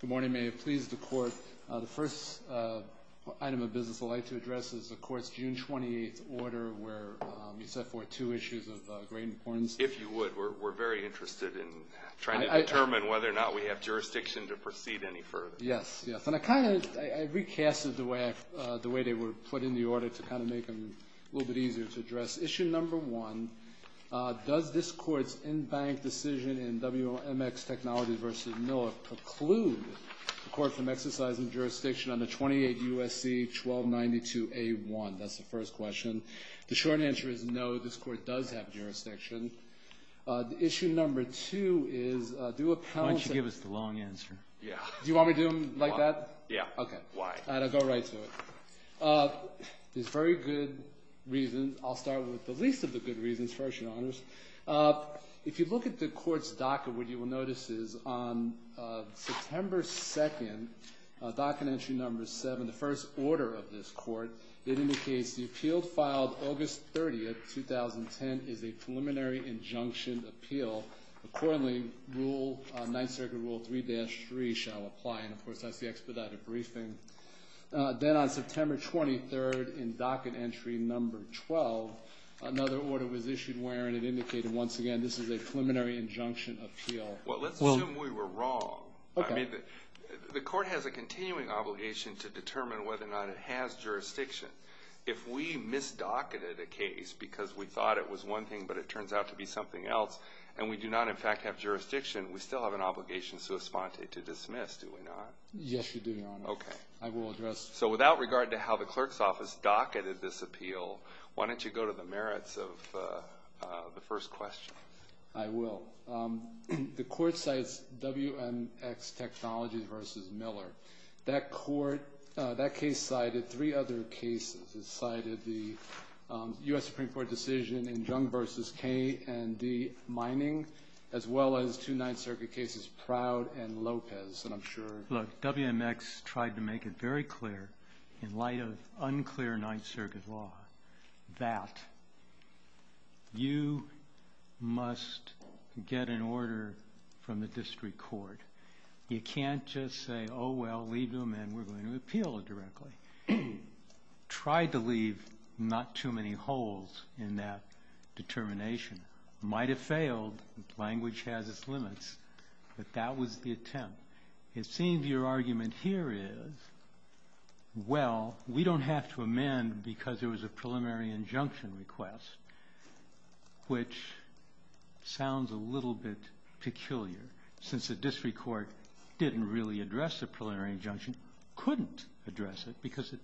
Good morning. May it please the Court, the first item of business I'd like to address is the Court's June 28th order where you set forth two issues of great importance. If you would, we're very interested in trying to determine whether or not we have jurisdiction to proceed any further. Yes, yes. And I kind of, I recasted the way they were put in the order to kind of make them a little bit easier to address. Issue number one, does this Court's in-bank decision in WMX Technologies v. Miller preclude the Court from exercising jurisdiction under 28 U.S.C. 1292a1? That's the first question. The short answer is no, this Court does have jurisdiction. The issue number two is, do a penalty... Why don't you give us the long answer? Yeah. Do you want me to do them like that? Yeah. Okay. Why? I'll go right to it. There's very good reasons. I'll start with the least of the good reasons first, Your Honors. If you look at the Court's docket, what you will notice is on September 2nd, docket entry number seven, the first order of this Court, it indicates the appeal filed August 30th, 2010 is a preliminary injunction appeal. Accordingly, Rule, Ninth Circuit Rule 3-3 shall apply, and of course that's the expedited briefing. Then on September 23rd, in docket entry number 12, another order was issued wherein it indicated once again this is a preliminary injunction appeal. Well, let's assume we were wrong. Okay. I mean, the Court has a continuing obligation to determine whether or not it has jurisdiction. If we misdocketed a case because we thought it was one thing but it turns out to be something else and we do not, in fact, have jurisdiction, we still have an obligation sui sponte to dismiss, do we not? Yes, you do, Your Honor. Okay. I will address... So without regard to how the Clerk's Office docketed this appeal, why don't you go to the merits of the first question? I will. The Court cites WMX Technologies v. Miller. That case cited three other cases. It cited the U.S. Supreme Court decision in Jung v. K and D mining as well as two Ninth Circuit cases, Proud and Lopez, and I'm sure... Look, WMX tried to make it very clear in light of unclear Ninth Circuit law that you must get an order from the district court. You can't just say, oh, well, leave them and we're going to appeal directly. Tried to leave not too many holes in that determination. Might have failed. Language has its limits. But that was the attempt. It seems your argument here is, well, we don't have to amend because there was a preliminary injunction request, which sounds a little bit peculiar, since the district court didn't really address the preliminary injunction, couldn't address it because it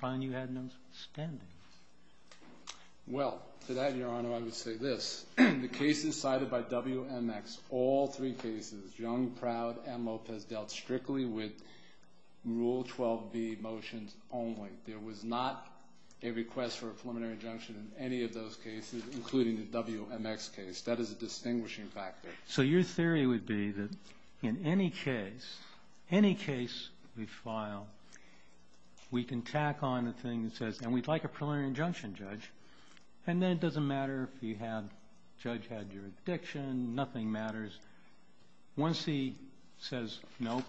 found you had no spending. Well, to that, Your Honor, I would say this. The cases cited by WMX, all three cases, Jung, Proud, and Lopez, dealt strictly with Rule 12b motions only. There was not a request for a preliminary injunction in any of those cases, including the WMX case. That is a distinguishing factor. So your theory would be that in any case, any case we file, we can tack on the thing that says, and we'd like a preliminary injunction, Judge, and then it doesn't matter if you have, Judge, had your addiction. Nothing matters. Once he says, nope,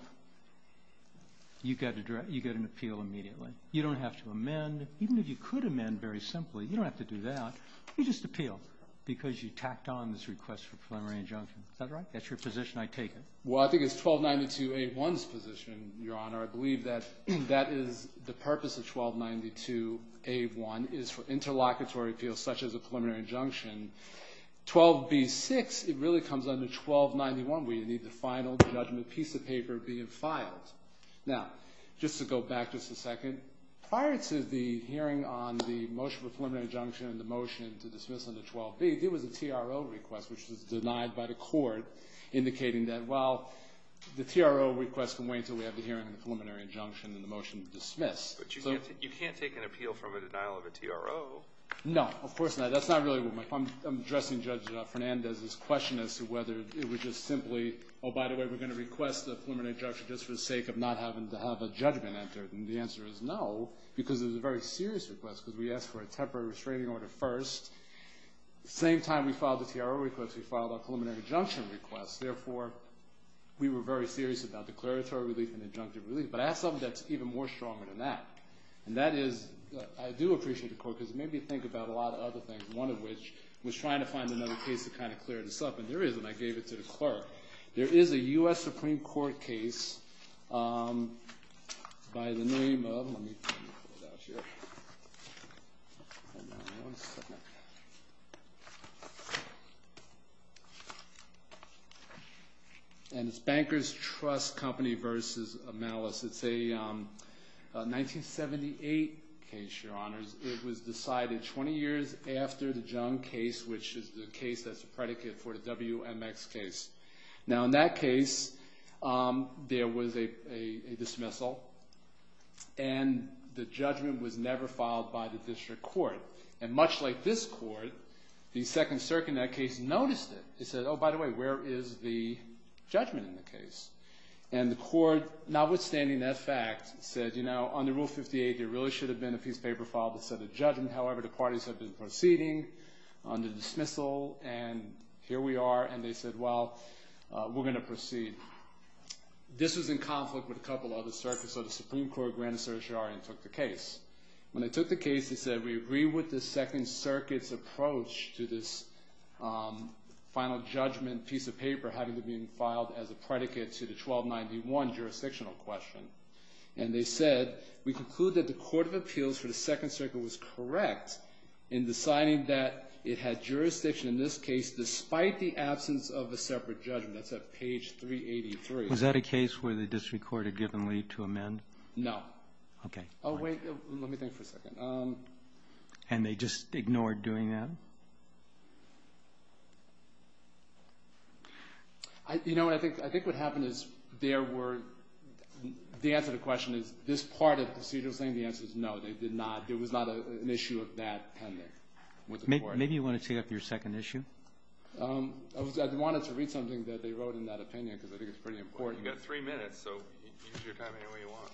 you get an appeal immediately. You don't have to amend. Even if you could amend very simply, you don't have to do that. You just appeal because you tacked on this request for a preliminary injunction. Is that right? That's your position. I take it. Well, I think it's 1292A1's position, Your Honor. I believe that that is the purpose of 1292A1 is for interlocutory appeals such as a preliminary injunction. 12b-6, it really comes under 1291, where you need the final judgment piece of paper being filed. Now, just to go back just a second, prior to the hearing on the motion for preliminary injunction and the motion to dismiss under 12b, there was a TRO request, which was denied by the court, indicating that, well, the TRO request can wait until we have the hearing on the preliminary injunction and the motion to dismiss. But you can't take an appeal from a denial of a TRO. No, of course not. That's not really what my – I'm addressing Judge Fernandez's question as to whether it was just simply, oh, by the way, we're going to request a preliminary injunction just for the sake of not having to have a judgment entered. And the answer is no, because it was a very serious request, because we asked for a temporary restraining order first. Same time we filed the TRO request, we filed our preliminary injunction request. Therefore, we were very serious about declaratory relief and injunctive relief. But I have something that's even more stronger than that, and that is – I do appreciate the court, because it made me think about a lot of other things, one of which was trying to find another case to kind of clear this up. And there is, and I gave it to the clerk. There is a U.S. Supreme Court case by the name of – let me pull it out here. Hold on one second. And it's Bankers Trust Company v. Amalis. It's a 1978 case, Your Honors. It was decided 20 years after the Jung case, which is the case that's a predicate for the WMX case. Now, in that case, there was a dismissal, and the judgment was never filed by the district court. And much like this court, the Second Circuit in that case noticed it. They said, oh, by the way, where is the judgment in the case? And the court, notwithstanding that fact, said, you know, under Rule 58, there really should have been a piece of paper filed that said the judgment. However, the parties have been proceeding under dismissal, and here we are. And they said, well, we're going to proceed. This was in conflict with a couple other circuits, so the Supreme Court granted certiorari and took the case. When they took the case, they said, we agree with the Second Circuit's approach to this final judgment piece of paper having been filed as a predicate to the 1291 jurisdictional question. And they said, we conclude that the court of appeals for the Second Circuit was correct in deciding that it had jurisdiction in this case despite the absence of a separate judgment. That's at page 383. Was that a case where the district court had given leave to amend? No. Okay. Oh, wait. Let me think for a second. And they just ignored doing that? You know what? I think what happened is there were the answer to the question is this part of the procedural saying the answer is no. They did not. There was not an issue of that pending with the court. Maybe you want to take up your second issue? I wanted to read something that they wrote in that opinion because I think it's pretty important. You've got three minutes, so use your time any way you want.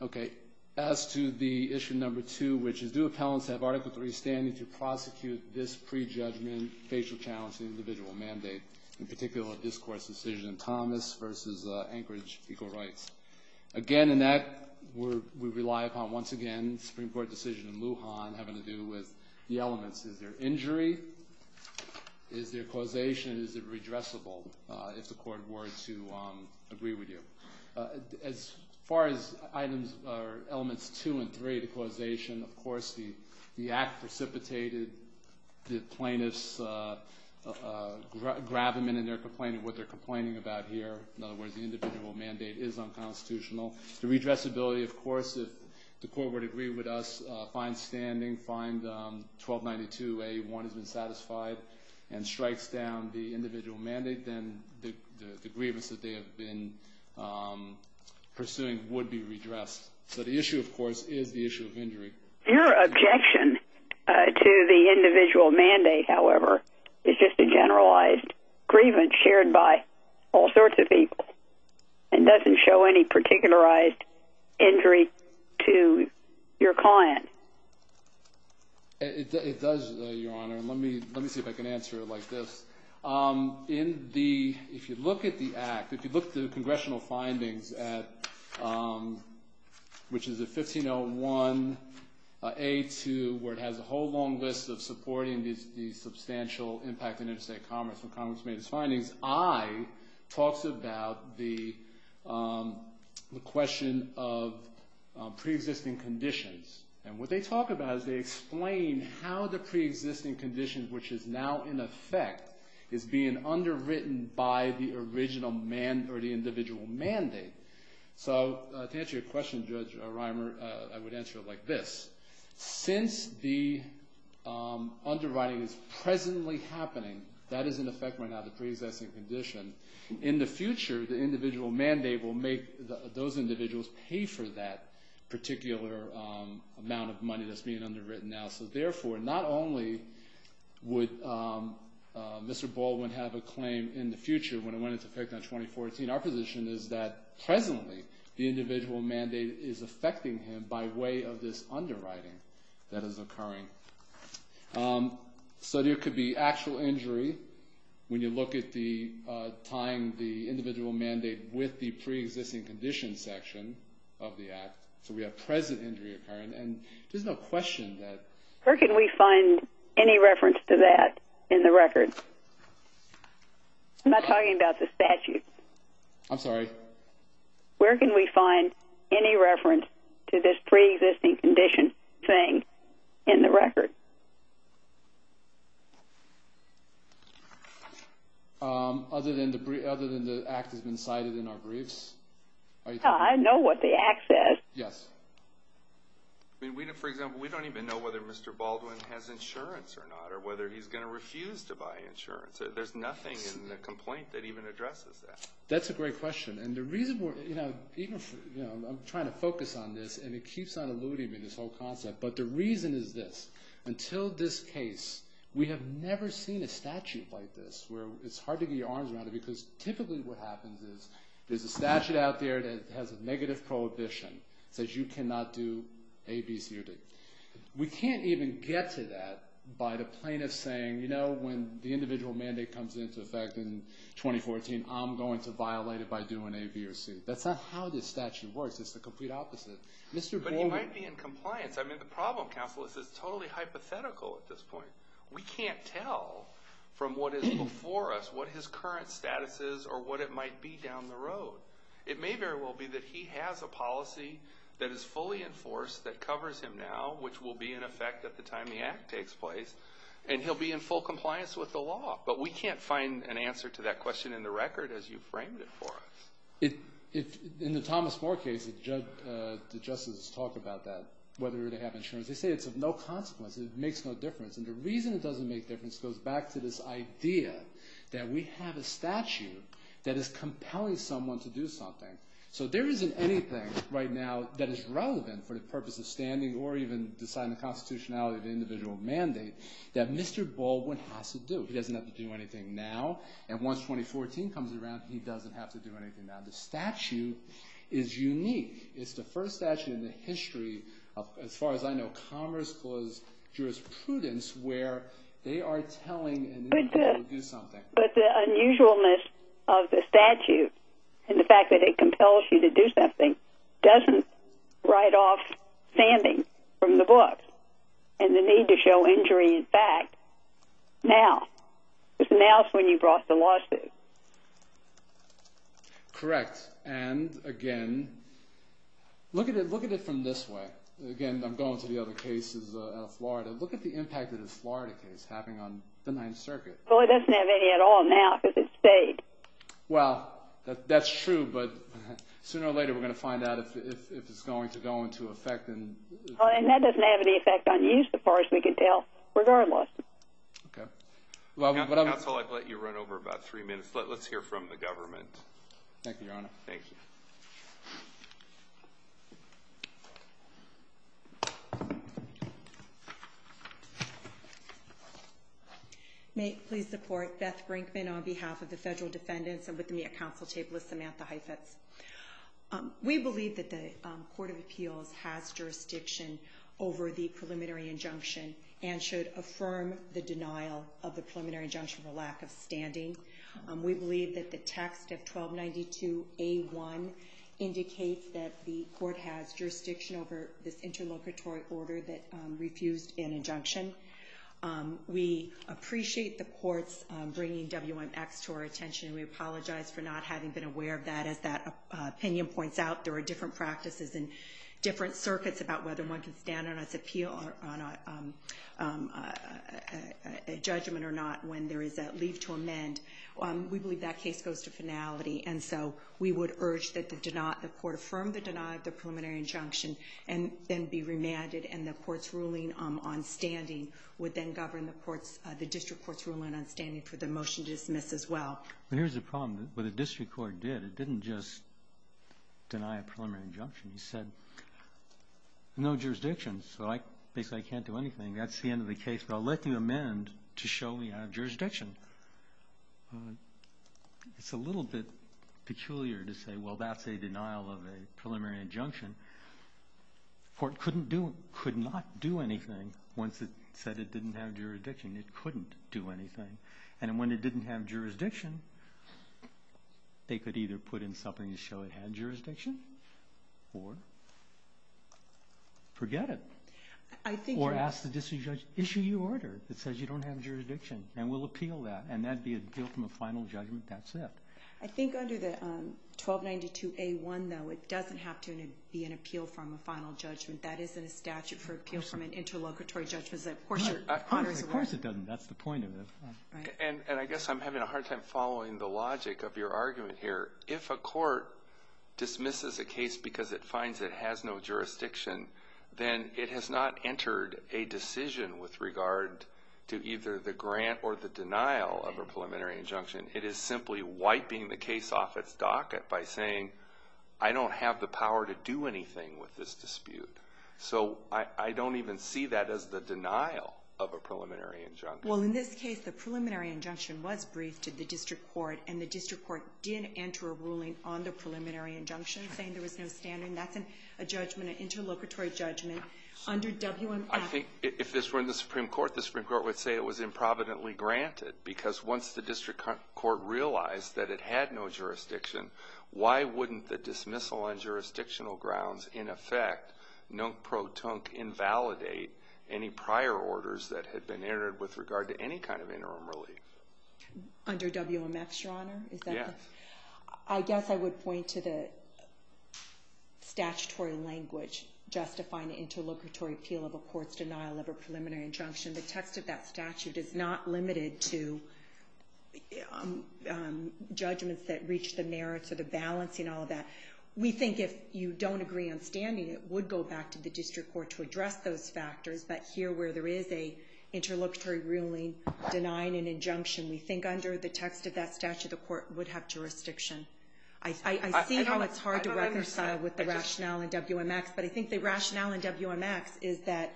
Okay. As to the issue number two, which is do appellants have Article III standing to prosecute this prejudgment, facial challenge to the individual mandate, in particular, a discourse decision in Thomas versus Anchorage Equal Rights? Again, in that we rely upon, once again, Supreme Court decision in Lujan having to do with the elements. Is there injury? Is there causation? Is it redressable if the court were to agree with you? As far as items or elements two and three, the causation, of course, the act precipitated the plaintiff's gravamen in their complaint of what they're complaining about here. In other words, the individual mandate is unconstitutional. The redressability, of course, if the court were to agree with us, find 1292A1 has been satisfied and strikes down the individual mandate, then the grievance that they have been pursuing would be redressed. So the issue, of course, is the issue of injury. Your objection to the individual mandate, however, is just a generalized grievance shared by all sorts of people and doesn't show any particularized injury to your client. It does, Your Honor. Let me see if I can answer it like this. If you look at the act, if you look at the congressional findings, which is a 1501A2, where it has a whole long list of supporting the substantial impact on interstate commerce. I talks about the question of preexisting conditions. And what they talk about is they explain how the preexisting conditions, which is now in effect, is being underwritten by the original man or the individual mandate. So to answer your question, Judge Reimer, I would answer it like this. Since the underwriting is presently happening, that is in effect right now, the preexisting condition, in the future, the individual mandate will make those individuals pay for that particular amount of money that's being underwritten now. So therefore, not only would Mr. Baldwin have a claim in the future when it went into effect in 2014, our position is that presently the individual mandate is affecting him by way of this underwriting that is occurring. So there could be actual injury when you look at the tying the individual mandate with the preexisting condition section of the act. So we have present injury occurring, and there's no question that... Where can we find any reference to that in the record? I'm not talking about the statute. I'm sorry? Where can we find any reference to this preexisting condition thing in the record? Other than the act has been cited in our briefs? I know what the act says. Yes. For example, we don't even know whether Mr. Baldwin has insurance or not, or whether he's going to refuse to buy insurance. There's nothing in the complaint that even addresses that. That's a great question. And the reason we're... I'm trying to focus on this, and it keeps on eluding me, this whole concept. But the reason is this. Until this case, we have never seen a statute like this where it's hard to get your arms around it because typically what happens is there's a statute out there that has a negative prohibition. It says you cannot do A, B, C, or D. We can't even get to that by the plaintiff saying, you know, when the individual mandate comes into effect in 2014, I'm going to violate it by doing A, B, or C. That's not how this statute works. It's the complete opposite. Mr. Baldwin... But he might be in compliance. I mean, the problem, counsel, is it's totally hypothetical at this point. We can't tell from what is before us what his current status is or what it might be down the road. It may very well be that he has a policy that is fully enforced that covers him now, which will be in effect at the time the act takes place, and he'll be in full compliance with the law. But we can't find an answer to that question in the record as you framed it for us. In the Thomas Moore case, the justices talk about that, whether they have insurance. They say it's of no consequence. It makes no difference. And the reason it doesn't make difference goes back to this idea that we have a statute that is compelling someone to do something. So there isn't anything right now that is relevant for the purpose of standing or even deciding the constitutionality of the individual mandate that Mr. Baldwin has to do. He doesn't have to do anything now. And once 2014 comes around, he doesn't have to do anything now. The statute is unique. It's the first statute in the history of, as far as I know, commerce clause jurisprudence where they are telling an individual to do something. But the unusualness of the statute and the fact that it compels you to do something doesn't write off standing from the book and the need to show injury in fact now. Because now is when you've brought the lawsuit. Correct. And, again, look at it from this way. Again, I'm going to the other cases out of Florida. Look at the impact that this Florida case is having on the Ninth Circuit. Well, it doesn't have any at all now because it stayed. Well, that's true, but sooner or later we're going to find out if it's going to go into effect. And that doesn't have any effect on you, as far as we can tell, regardless. Okay. That's all I can let you run over, about three minutes. Let's hear from the government. Thank you, Your Honor. Thank you. May it please the Court. Beth Brinkman on behalf of the federal defendants and with me at counsel table is Samantha Heifetz. We believe that the Court of Appeals has jurisdiction over the preliminary injunction and should affirm the denial of the preliminary injunction for lack of standing. We believe that the text of 1292A1 indicates that the Court has jurisdiction over this interlocutory order that refused an injunction. We appreciate the Court's bringing WMX to our attention. We apologize for not having been aware of that. As that opinion points out, there are different practices and different circuits about whether one can stand on a judgment or not when there is a leave to amend. We believe that case goes to finality, and so we would urge that the Court affirm the denial of the preliminary injunction and then be remanded and the Court's ruling on standing would then govern the District Court's ruling on standing for the motion to dismiss as well. Here's the problem. What the District Court did, it didn't just deny a preliminary injunction. It said, no jurisdiction, so basically I can't do anything. That's the end of the case, but I'll let you amend to show we have jurisdiction. It's a little bit peculiar to say, well, that's a denial of a preliminary injunction. The Court could not do anything once it said it didn't have jurisdiction. It couldn't do anything, and when it didn't have jurisdiction, they could either put in something to show it had jurisdiction or forget it. Or ask the District Judge, issue your order that says you don't have jurisdiction, and we'll appeal that, and that would be an appeal from a final judgment. That's it. I think under the 1292A1, though, it doesn't have to be an appeal from a final judgment. That isn't a statute for appeal from an interlocutory judgment. Of course it doesn't. That's the point of it. I guess I'm having a hard time following the logic of your argument here. If a court dismisses a case because it finds it has no jurisdiction, then it has not entered a decision with regard to either the grant or the denial of a preliminary injunction. It is simply wiping the case off its docket by saying, I don't have the power to do anything with this dispute. I don't even see that as the denial of a preliminary injunction. Well, in this case, the preliminary injunction was briefed to the district court, and the district court did enter a ruling on the preliminary injunction saying there was no standing. That's a judgment, an interlocutory judgment under WMF. I think if this were in the Supreme Court, the Supreme Court would say it was improvidently granted because once the district court realized that it had no jurisdiction, why wouldn't the dismissal on jurisdictional grounds, in effect, invalidate any prior orders that had been entered with regard to any kind of interim relief? Under WMF, Your Honor? Yes. I guess I would point to the statutory language justifying the interlocutory appeal of a court's denial of a preliminary injunction. The text of that statute is not limited to judgments that reach the merits or the balance and all of that. We think if you don't agree on standing, it would go back to the district court to address those factors, but here where there is an interlocutory ruling denying an injunction, we think under the text of that statute, the court would have jurisdiction. I see how it's hard to reconcile with the rationale in WMX, but I think the rationale in WMX is that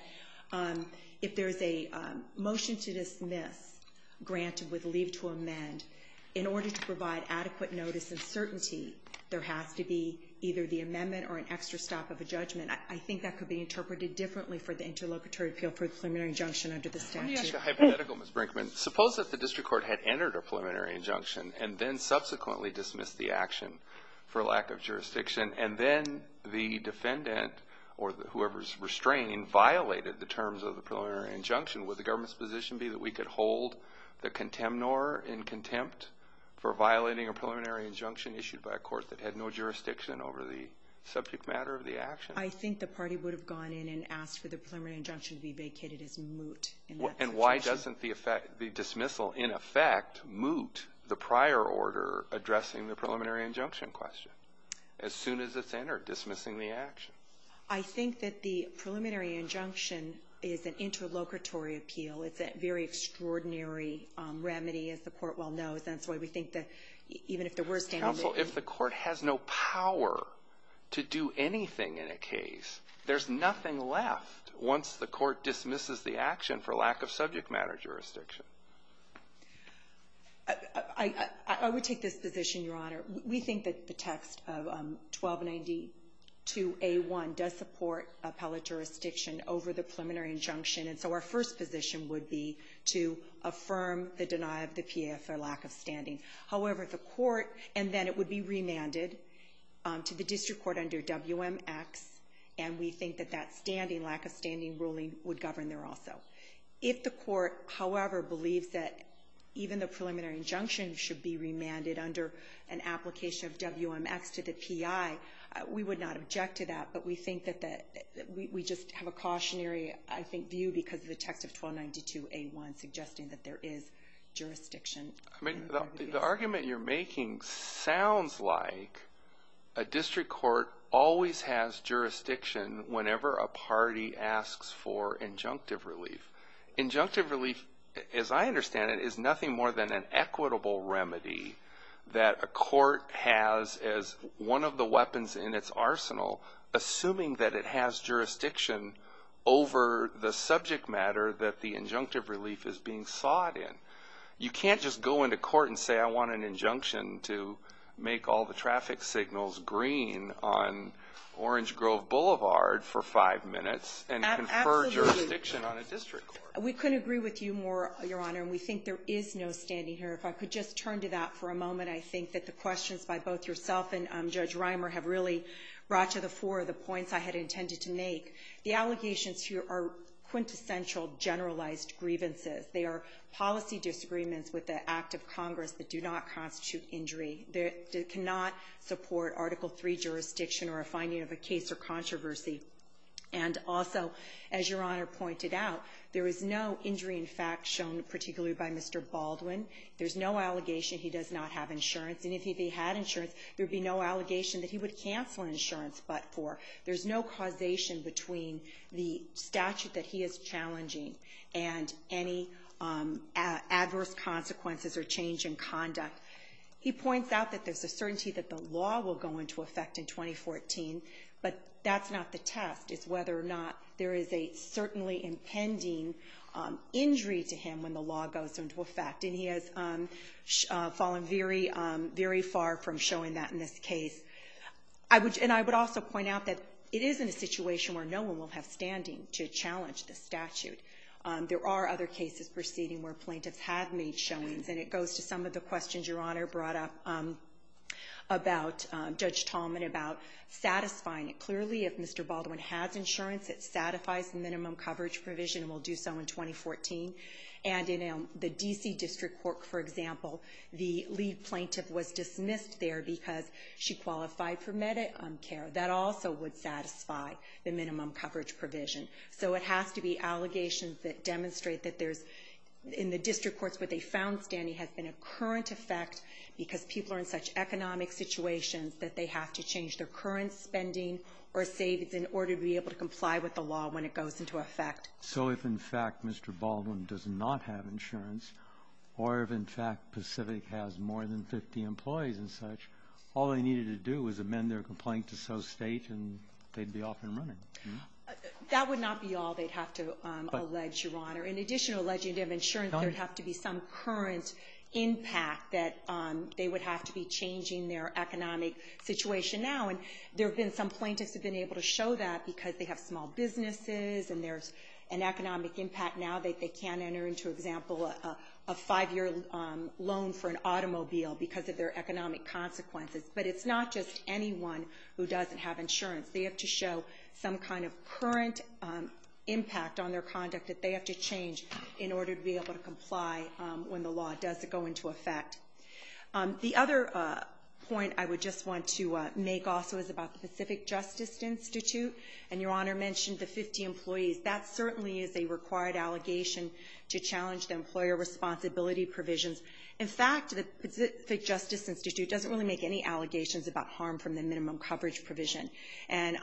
if there's a motion to dismiss granted with leave to amend, in order to provide adequate notice and certainty, there has to be either the amendment or an extra stop of a judgment. I think that could be interpreted differently for the interlocutory appeal for the preliminary injunction under the statute. Let me ask a hypothetical, Ms. Brinkman. Suppose that the district court had entered a preliminary injunction and then subsequently dismissed the action for lack of jurisdiction, and then the defendant or whoever's restraining violated the terms of the preliminary injunction. Would the government's position be that we could hold the contemnor in contempt for violating a preliminary injunction issued by a court that had no jurisdiction over the subject matter of the action? I think the party would have gone in and asked for the preliminary injunction to be vacated as moot in that situation. And why doesn't the dismissal in effect moot the prior order addressing the preliminary injunction question as soon as it's entered, dismissing the action? I think that the preliminary injunction is an interlocutory appeal. It's a very extraordinary remedy, as the Court well knows. And that's why we think that even if there were stand- Counsel, if the Court has no power to do anything in a case, there's nothing left once the Court dismisses the action for lack of subject matter jurisdiction. I would take this position, Your Honor. We think that the text of 1292a1 does support appellate jurisdiction over the preliminary injunction. And so our first position would be to affirm the denial of the PA for lack of standing. However, the Court, and then it would be remanded to the district court under WMX, and we think that that standing, lack of standing ruling, would govern there also. If the Court, however, believes that even the preliminary injunction should be remanded under an application of WMX to the PI, we would not object to that, but we think that we just have a cautionary, I think, view because of the text of 1292a1 suggesting that there is jurisdiction. The argument you're making sounds like a district court always has jurisdiction whenever a party asks for injunctive relief. Injunctive relief, as I understand it, is nothing more than an equitable remedy that a court has as one of the weapons in its arsenal, assuming that it has jurisdiction over the subject matter that the injunctive relief is being sought in. You can't just go into court and say, I want an injunction to make all the traffic signals green on Orange Grove Boulevard for five minutes and confer jurisdiction on a district court. Absolutely. We couldn't agree with you more, Your Honor, and we think there is no standing here. If I could just turn to that for a moment, I think that the questions by both yourself and Judge Reimer have really brought to the fore the points I had intended to make. The allegations here are quintessential generalized grievances. They are policy disagreements with the act of Congress that do not constitute injury. They cannot support Article III jurisdiction or a finding of a case or controversy. And also, as Your Honor pointed out, there is no injury in fact shown particularly by Mr. Baldwin. There's no allegation he does not have insurance, and if he had insurance there would be no allegation that he would cancel insurance but for. There's no causation between the statute that he is challenging and any adverse consequences or change in conduct. He points out that there's a certainty that the law will go into effect in 2014, but that's not the test is whether or not there is a certainly impending injury to him when the law goes into effect. And he has fallen very, very far from showing that in this case. And I would also point out that it is in a situation where no one will have standing to challenge the statute. There are other cases proceeding where plaintiffs have made showings, and it goes to some of the questions Your Honor brought up about Judge Tallman about satisfying it. Clearly, if Mr. Baldwin has insurance, it satisfies the minimum coverage provision and will do so in 2014. And in the D.C. District Court, for example, the lead plaintiff was dismissed there because she qualified for Medicare. That also would satisfy the minimum coverage provision. So it has to be allegations that demonstrate that there's in the district courts where they found standing has been a current effect because people are in such economic situations that they have to change their current spending or savings in order to be able to comply with the law when it goes into effect. So if, in fact, Mr. Baldwin does not have insurance, or if, in fact, Pacific has more than 50 employees and such, all they needed to do was amend their complaint to so state and they'd be off and running. That would not be all they'd have to allege, Your Honor. In addition to alleging they have insurance, there would have to be some current impact that they would have to be changing their economic situation now. And some plaintiffs have been able to show that because they have small businesses and there's an economic impact now that they can't enter into, for example, a five-year loan for an automobile because of their economic consequences. But it's not just anyone who doesn't have insurance. They have to show some kind of current impact on their conduct that they have to change in order to be able to comply when the law does go into effect. The other point I would just want to make also is about the Pacific Justice Institute. And Your Honor mentioned the 50 employees. That certainly is a required allegation to challenge the employer responsibility provisions. In fact, the Pacific Justice Institute doesn't really make any allegations about harm from the minimum coverage provision. And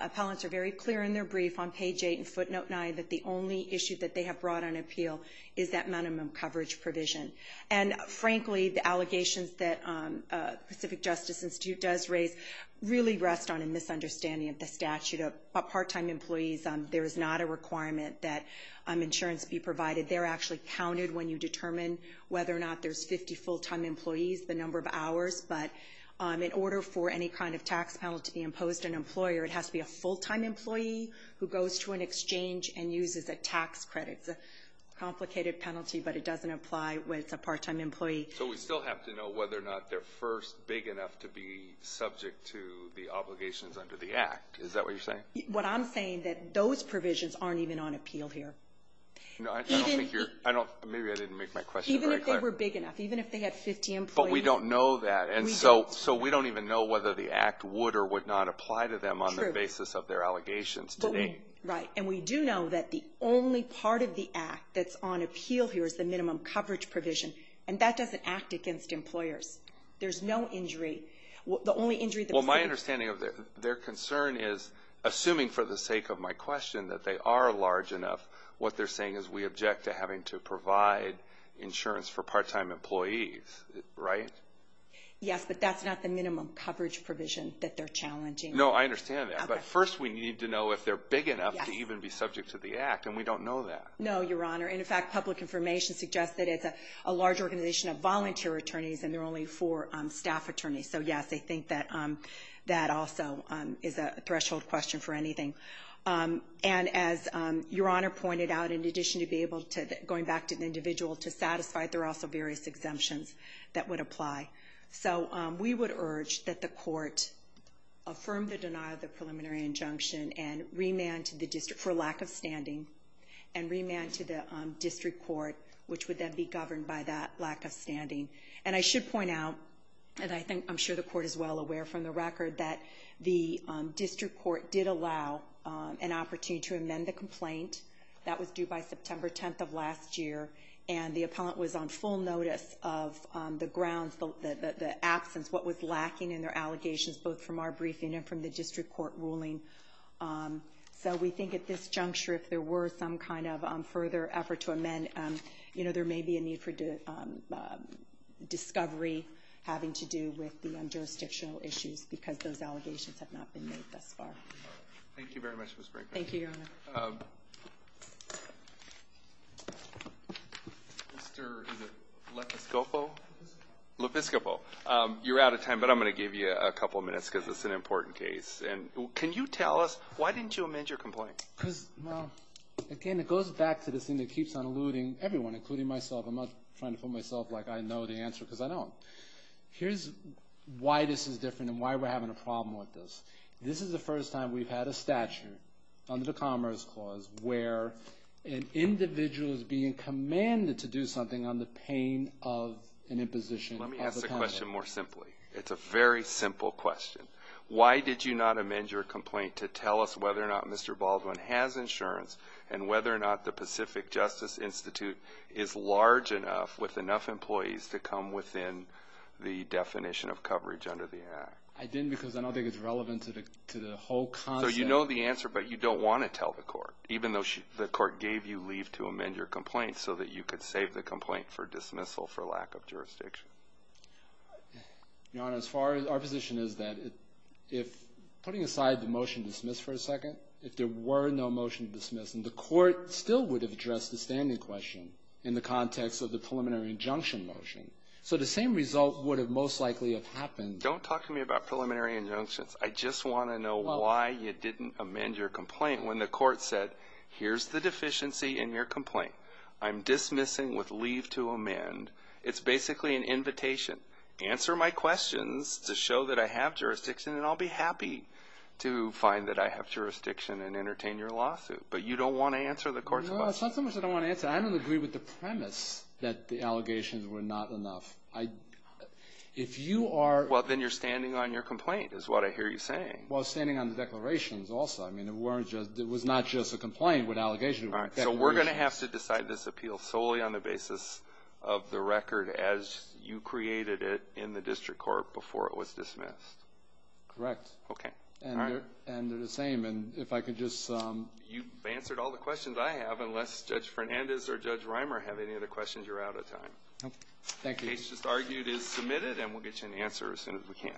appellants are very clear in their brief on page 8 and footnote 9 that the only issue that they have brought on appeal is that minimum coverage provision. And, frankly, the allegations that the Pacific Justice Institute does raise really rest on a misunderstanding of the statute of part-time employees. There is not a requirement that insurance be provided. They're actually counted when you determine whether or not there's 50 full-time employees, the number of hours. But in order for any kind of tax penalty imposed on an employer, it has to be a full-time employee who goes to an exchange and uses a tax credit. It's a complicated penalty, but it doesn't apply when it's a part-time employee. So we still have to know whether or not they're first big enough to be subject to the obligations under the Act. Is that what you're saying? What I'm saying is that those provisions aren't even on appeal here. No, I don't think you're – maybe I didn't make my question very clear. Even if they were big enough. Even if they had 50 employees. But we don't know that. And so we don't even know whether the Act would or would not apply to them on the basis of their allegations today. Right. And we do know that the only part of the Act that's on appeal here is the minimum coverage provision, and that doesn't act against employers. There's no injury. The only injury – Well, my understanding of their concern is, assuming for the sake of my question that they are large enough, what they're saying is we object to having to provide insurance for part-time employees, right? Yes, but that's not the minimum coverage provision that they're challenging. No, I understand that. But first we need to know if they're big enough to even be subject to the Act, and we don't know that. No, Your Honor. And, in fact, public information suggests that it's a large organization of volunteer attorneys, and there are only four staff attorneys. So, yes, I think that also is a threshold question for anything. And as Your Honor pointed out, in addition to be able to – going back to the individual to satisfy, there are also various exemptions that would apply. So we would urge that the court affirm the denial of the preliminary injunction and remand to the district for lack of standing, and remand to the district court, which would then be governed by that lack of standing. And I should point out, and I'm sure the court is well aware from the record, that the district court did allow an opportunity to amend the complaint. That was due by September 10th of last year, and the appellant was on full notice of the grounds, the absence, what was lacking in their allegations, both from our briefing and from the district court ruling. So we think at this juncture, if there were some kind of further effort to amend, there may be a need for discovery having to do with the jurisdictional issues because those allegations have not been made thus far. Thank you very much, Ms. Braco. Thank you, Your Honor. Mr. is it Lepeskopo? Lepeskopo. You're out of time, but I'm going to give you a couple of minutes because it's an important case. And can you tell us why didn't you amend your complaint? Because, well, again, it goes back to this thing that keeps on alluding everyone, including myself. I'm not trying to put myself like I know the answer because I don't. Here's why this is different and why we're having a problem with this. This is the first time we've had a statute under the Commerce Clause where an individual is being commanded to do something on the pain of an imposition. Let me ask the question more simply. It's a very simple question. Why did you not amend your complaint to tell us whether or not Mr. Baldwin has insurance and whether or not the Pacific Justice Institute is large enough with enough employees to come within the definition of coverage under the act? I didn't because I don't think it's relevant to the whole concept. So you know the answer, but you don't want to tell the court, even though the court gave you leave to amend your complaint so that you could save the complaint for dismissal for lack of jurisdiction. Your Honor, our position is that if, putting aside the motion to dismiss for a second, if there were no motion to dismiss and the court still would have addressed the standing question in the context of the preliminary injunction motion, so the same result would have most likely have happened. Don't talk to me about preliminary injunctions. I just want to know why you didn't amend your complaint when the court said, here's the deficiency in your complaint. I'm dismissing with leave to amend. It's basically an invitation. Answer my questions to show that I have jurisdiction, and I'll be happy to find that I have jurisdiction and entertain your lawsuit. But you don't want to answer the court's question. No, it's not so much that I want to answer. I don't agree with the premise that the allegations were not enough. If you are – Well, then you're standing on your complaint is what I hear you saying. Well, I'm standing on the declarations also. I mean, it was not just a complaint with allegations. So we're going to have to decide this appeal solely on the basis of the record as you created it in the district court before it was dismissed. Correct. Okay. And they're the same. And if I could just – You've answered all the questions I have, unless Judge Fernandez or Judge Reimer have any other questions, you're out of time. Thank you. The case just argued is submitted, and we'll get you an answer as soon as we can.